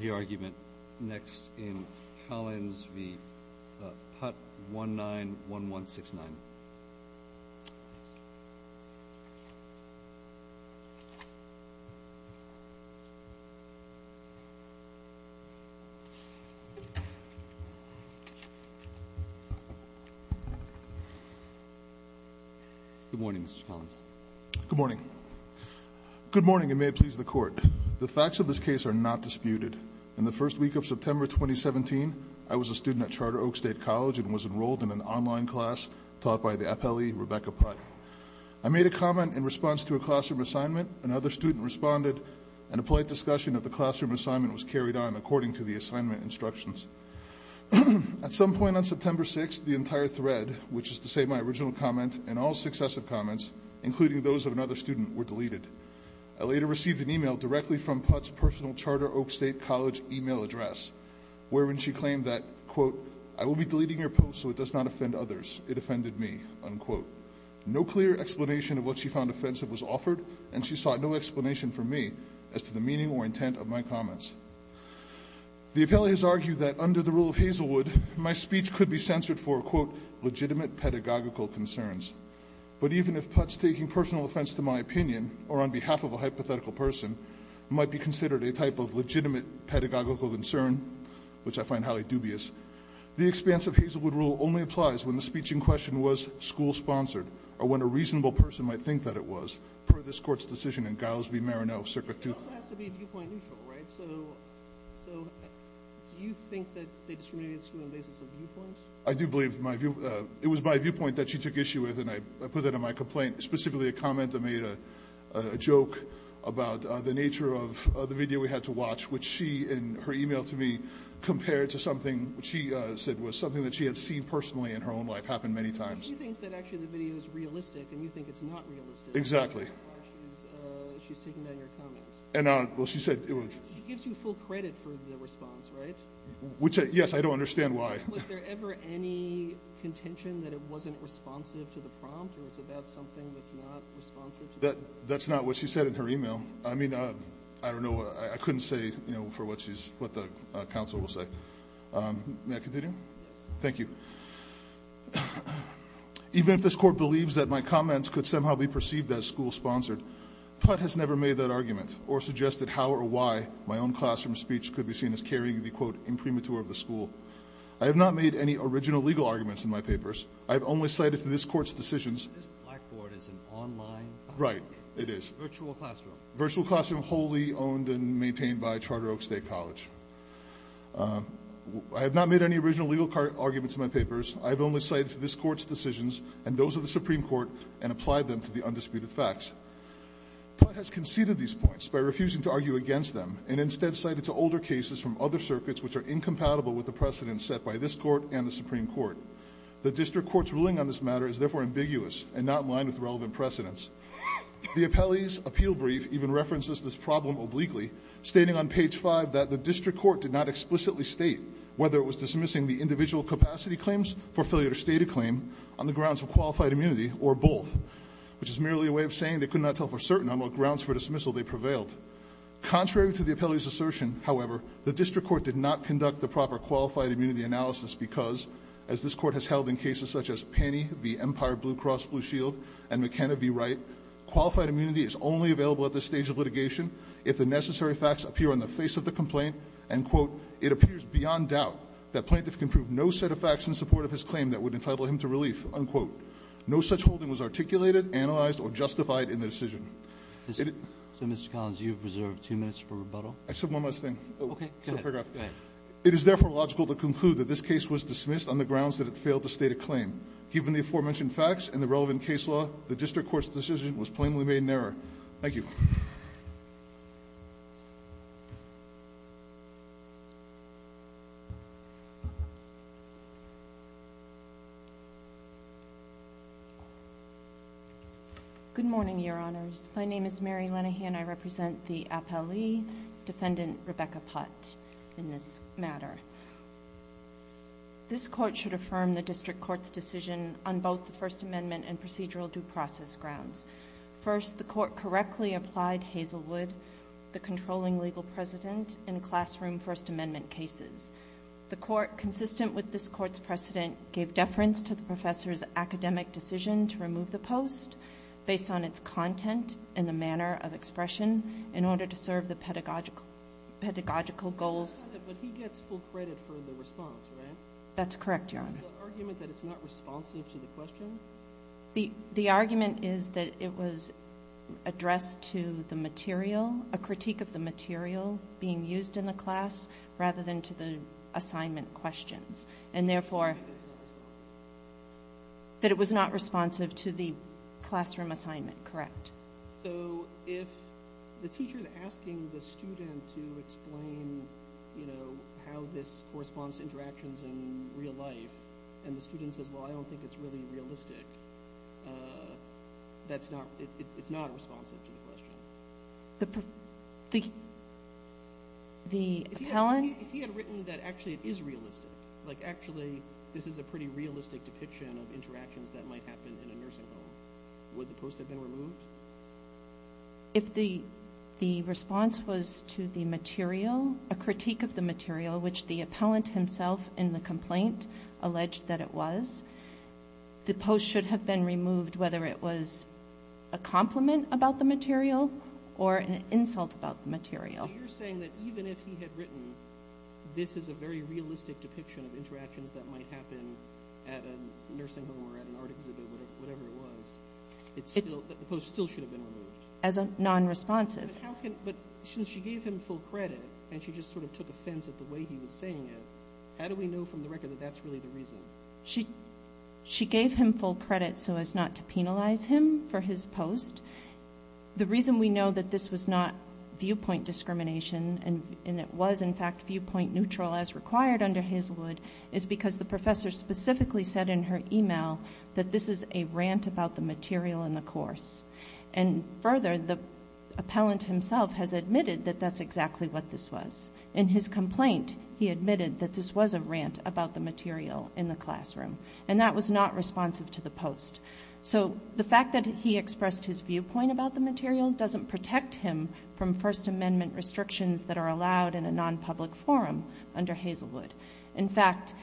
v. Putt, 1-9-1-1-6-9 Good morning, Mr. Collins. Good morning. Good morning, and may it please the Court. The facts of this case are not disputed. In the first week of September 2017, I was a student at Charter Oak State College and was enrolled in an online class taught by the appellee, Rebecca Putt. I made a comment in response to a classroom assignment, another student responded, and a polite discussion of the classroom assignment was carried on according to the assignment instructions. At some point on September 6, the entire thread, which is to say my original comment, and all successive comments, including those of another student, were deleted. I later received an email directly from Putt's personal Charter Oak State College email address, wherein she claimed that, quote, I will be deleting your post so it does not offend others. It offended me, unquote. No clear explanation of what she found offensive was offered, and she sought no explanation from me as to the meaning or intent of my comments. The appellee has argued that under the rule of Hazelwood, my speech could be censored for, quote, legitimate pedagogical concerns. But even if Putt's taking personal offense to my opinion, or on behalf of a hypothetical person, it might be considered a type of legitimate pedagogical concern, which I find highly dubious. The expanse of Hazelwood rule only applies when the speech in question was school-sponsored, or when a reasonable person might think that it was, per this Court's decision in Giles v. Marano, Circa 2000. It also has to be viewpoint-neutral, right? So do you think that they discriminated the school on the basis of viewpoint? I do believe my view—it was my viewpoint that she took issue with, and I put that in my complaint—specifically a comment that made a joke about the nature of the video we had to watch, which she, in her email to me, compared to something she said was something that she had seen personally in her own life, happened many times. She thinks that actually the video is realistic, and you think it's not realistic. Exactly. She's taking down your comment. Well, she said— She gives you full credit for the response, right? Yes, I don't understand why. Was there ever any contention that it wasn't responsive to the prompt, or it's about something that's not responsive to the— That's not what she said in her email. I mean, I don't know. I couldn't say, you know, for what she's—what the counsel will say. May I continue? Yes. Thank you. Even if this Court believes that my comments could somehow be perceived as school-sponsored, Putt has never made that argument or suggested how or why my own classroom speech could be carrying the, quote, imprimatur of the school. I have not made any original legal arguments in my papers. I have only cited to this Court's decisions— This Blackboard is an online classroom? Right. It is. A virtual classroom. A virtual classroom wholly owned and maintained by Charter Oak State College. I have not made any original legal arguments in my papers. I have only cited to this Court's decisions and those of the Supreme Court and applied them to the undisputed facts. Putt has conceded these points by refusing to argue against them and instead cited to us older cases from other circuits which are incompatible with the precedents set by this Court and the Supreme Court. The district court's ruling on this matter is therefore ambiguous and not in line with relevant precedents. The appellee's appeal brief even references this problem obliquely, stating on page 5 that the district court did not explicitly state whether it was dismissing the individual capacity claims, fulfilled or stated claim, on the grounds of qualified immunity or both, which is merely a way of saying they could not tell for certain on what grounds for dismissal they prevailed. Contrary to the appellee's assertion, however, the district court did not conduct the proper qualified immunity analysis because, as this Court has held in cases such as Penney v. Empire Blue Cross Blue Shield and McKenna v. Wright, qualified immunity is only available at this stage of litigation if the necessary facts appear on the face of the complaint and, quote, it appears beyond doubt that plaintiff can prove no set of facts in support of his claim that would entitle him to relief, unquote. No such holding was articulated, analyzed, or justified in the decision. So, Mr. Collins, you have reserved two minutes for rebuttal. I said one last thing. Okay. Go ahead. It is, therefore, logical to conclude that this case was dismissed on the grounds that it failed to state a claim. Given the aforementioned facts and the relevant case law, the district court's decision was plainly made in error. Thank you. Good morning, Your Honors. My name is Mary Lenahan. I represent the appellee, Defendant Rebecca Putt, in this matter. This Court should affirm the district court's decision on both the First Amendment and procedural due process grounds. First, the court correctly applied Hazelwood, the controlling legal president, in classroom First Amendment cases. The court, consistent with this court's precedent, gave deference to the professor's academic decision to remove the post based on its content and the manner of expression in order to serve the pedagogical goals. But he gets full credit for the response, right? That's correct, Your Honor. Is the argument that it's not responsive to the question? The argument is that it was addressed to the material, a critique of the material being used in the class, rather than to the assignment questions. And, therefore, that it was not responsive to the classroom assignment, correct? So if the teacher is asking the student to explain how this corresponds to interactions in real life, and the student says, well, I don't think it's really realistic, it's not responsive to the question? The appellant? If he had written that actually it is realistic, like actually this is a pretty realistic depiction of interactions that might happen in a nursing home, would the post have been removed? If the response was to the material, a critique of the material, which the appellant himself in the complaint alleged that it was, the post should have been removed whether it was a compliment about the material or an insult about the material. So you're saying that even if he had written this is a very realistic depiction of interactions that might happen at a nursing home or at an art exhibit, whatever it was, the post still should have been removed? As a non-responsive. But since she gave him full credit and she just sort of took offense at the way he was saying it, how do we know from the record that that's really the reason? She gave him full credit so as not to penalize him for his post. The reason we know that this was not viewpoint discrimination and it was, in fact, viewpoint neutral as required under Hazelwood is because the professor specifically said in her email that this is a rant about the material and the course. And further, the appellant himself has admitted that that's exactly what this was. In his complaint, he admitted that this was a rant about the material in the classroom. And that was not responsive to the post. So the fact that he expressed his viewpoint about the material doesn't protect him from First Amendment restrictions that are allowed in a non-public forum under Hazelwood. In fact,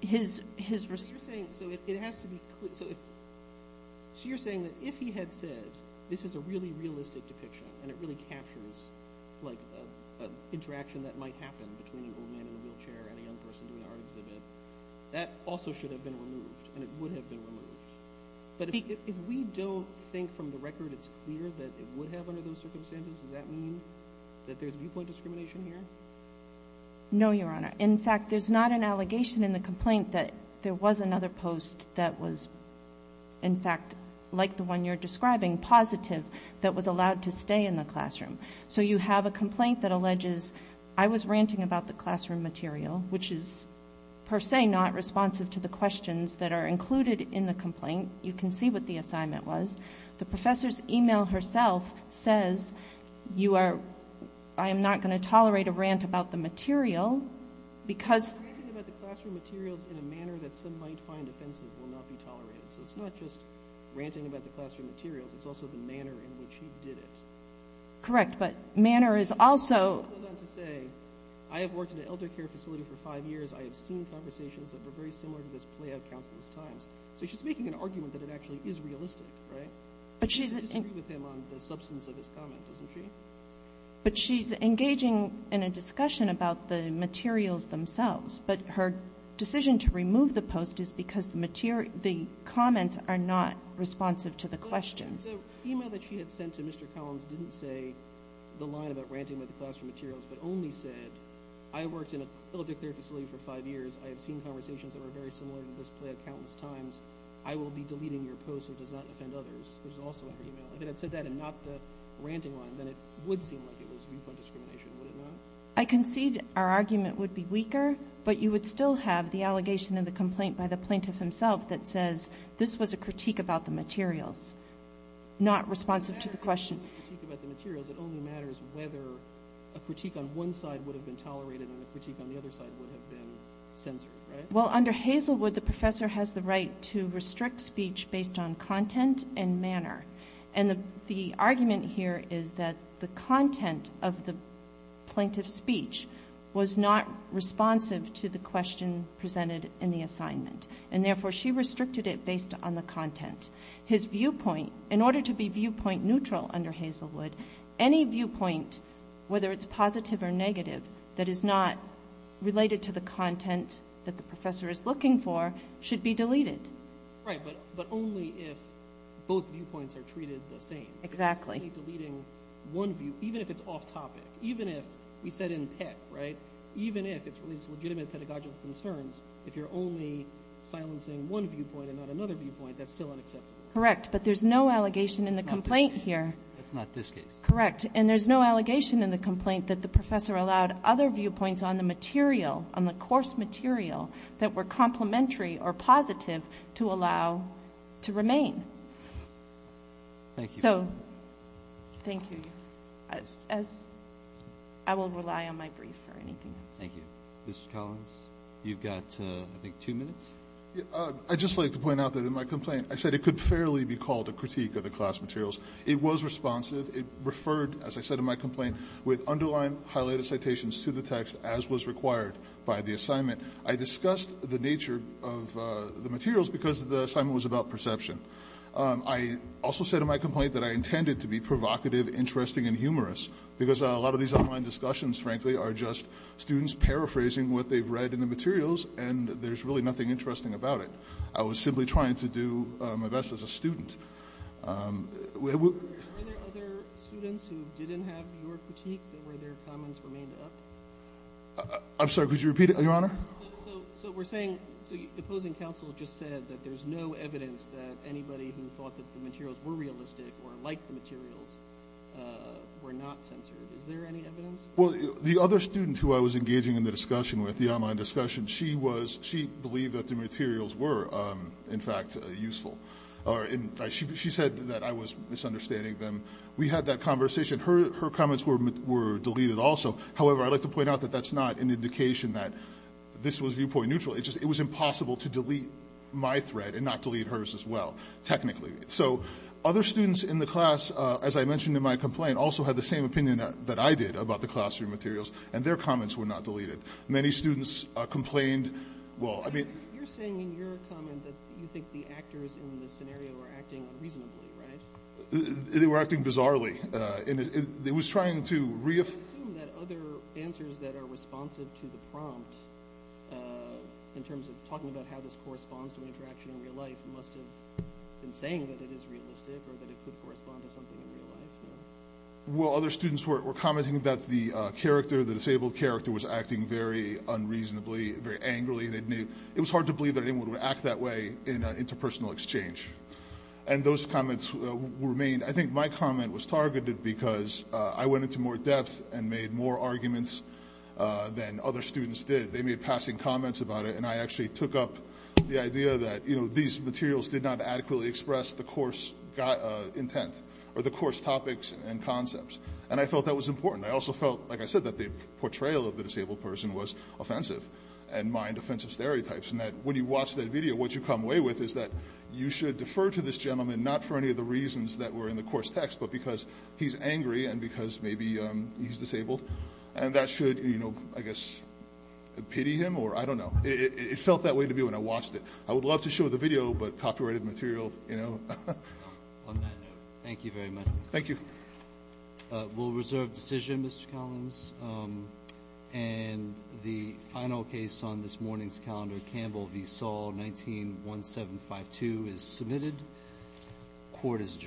his response. So you're saying that if he had said this is a really realistic depiction and it really captures an interaction that might happen between an old man in a wheelchair and a young person doing an art exhibit, that also should have been removed and it would have been removed. But if we don't think from the record it's clear that it would have under those circumstances, does that mean that there's viewpoint discrimination here? No, Your Honor. In fact, there's not an allegation in the complaint that there was another post that was, in fact, like the one you're describing, positive, that was allowed to stay in the classroom. So you have a complaint that alleges, I was ranting about the classroom material, which is per se not responsive to the questions that are included in the complaint. You can see what the assignment was. The professor's email herself says, I am not going to tolerate a rant about the material because Ranting about the classroom materials in a manner that some might find offensive will not be tolerated. So it's not just ranting about the classroom materials. It's also the manner in which he did it. Correct, but manner is also She goes on to say, I have worked in an elder care facility for five years. I have seen conversations that were very similar to this play out countless times. So she's making an argument that it actually is realistic, right? But she's I disagree with him on the substance of his comment, doesn't she? But she's engaging in a discussion about the materials themselves. But her decision to remove the post is because the comments are not responsive to the questions. The email that she had sent to Mr. Collins didn't say the line about ranting about the classroom materials, but only said, I have worked in an elder care facility for five years. I have seen conversations that were very similar to this play out countless times. I will be deleting your post so it does not offend others, which is also in her email. If it had said that and not the ranting line, then it would seem like it was viewpoint discrimination, would it not? I concede our argument would be weaker, but you would still have the allegation in the complaint by the plaintiff himself that says, this was a critique about the materials, not responsive to the question. It doesn't matter if it was a critique about the materials. It only matters whether a critique on one side would have been tolerated and a critique on the other side would have been censored, right? Well, under Hazelwood, the professor has the right to restrict speech based on content and manner. And the argument here is that the content of the plaintiff's speech was not responsive to the question presented in the assignment, and therefore she restricted it based on the content. His viewpoint, in order to be viewpoint neutral under Hazelwood, any viewpoint, whether it's positive or negative, that is not related to the content that the professor is looking for should be deleted. Right, but only if both viewpoints are treated the same. Exactly. Only deleting one view, even if it's off topic. Even if, we said in PEC, right, even if it's related to legitimate pedagogical concerns, if you're only silencing one viewpoint and not another viewpoint, that's still unacceptable. Correct, but there's no allegation in the complaint here. That's not this case. Correct, and there's no allegation in the complaint that the professor allowed other viewpoints on the course material that were complementary or positive to allow to remain. Thank you. So, thank you. I will rely on my brief for anything else. Thank you. Mr. Collins, you've got, I think, two minutes. I'd just like to point out that in my complaint, I said it could fairly be called a critique of the class materials. It was responsive. It referred, as I said in my complaint, with underlying highlighted citations to the text, as was required by the assignment. I discussed the nature of the materials because the assignment was about perception. I also said in my complaint that I intended to be provocative, interesting, and humorous, because a lot of these online discussions, frankly, are just students paraphrasing what they've read in the materials, and there's really nothing interesting about it. I was simply trying to do my best as a student. Were there other students who didn't have your critique, that where their comments were made up? I'm sorry, could you repeat it, Your Honor? So, we're saying the opposing counsel just said that there's no evidence that anybody who thought that the materials were realistic or liked the materials were not censored. Is there any evidence? Well, the other student who I was engaging in the discussion with, the online discussion, she believed that the materials were, in fact, useful. She said that I was misunderstanding them. We had that conversation. Her comments were deleted also. However, I'd like to point out that that's not an indication that this was viewpoint neutral. It was impossible to delete my thread and not delete hers as well, technically. So, other students in the class, as I mentioned in my complaint, also had the same opinion that I did about the classroom materials, and their comments were not deleted. Many students complained. You're saying in your comment that you think the actors in this scenario were acting unreasonably, right? They were acting bizarrely. I assume that other answers that are responsive to the prompt, in terms of talking about how this corresponds to interaction in real life, must have been saying that it is realistic or that it could correspond to something in real life. Well, other students were commenting that the character, the disabled character, was acting very unreasonably, very angrily. It was hard to believe that anyone would act that way in an interpersonal exchange. And those comments remained. I think my comment was targeted because I went into more depth and made more arguments than other students did. They made passing comments about it, and I actually took up the idea that these materials did not adequately express the course intent or the course topics and concepts. And I felt that was important. I also felt, like I said, that the portrayal of the disabled person was offensive and mined offensive stereotypes. When you watch that video, what you come away with is that you should defer to this gentleman, not for any of the reasons that were in the course text, but because he's angry and because maybe he's disabled. And that should, I guess, pity him or I don't know. It felt that way to me when I watched it. I would love to show the video, but copyrighted material, you know. On that note, thank you very much. Thank you. We'll reserve decision, Mr. Collins. And the final case on this morning's calendar, Campbell v. Saul, 19-1752, is submitted. Court is adjourned.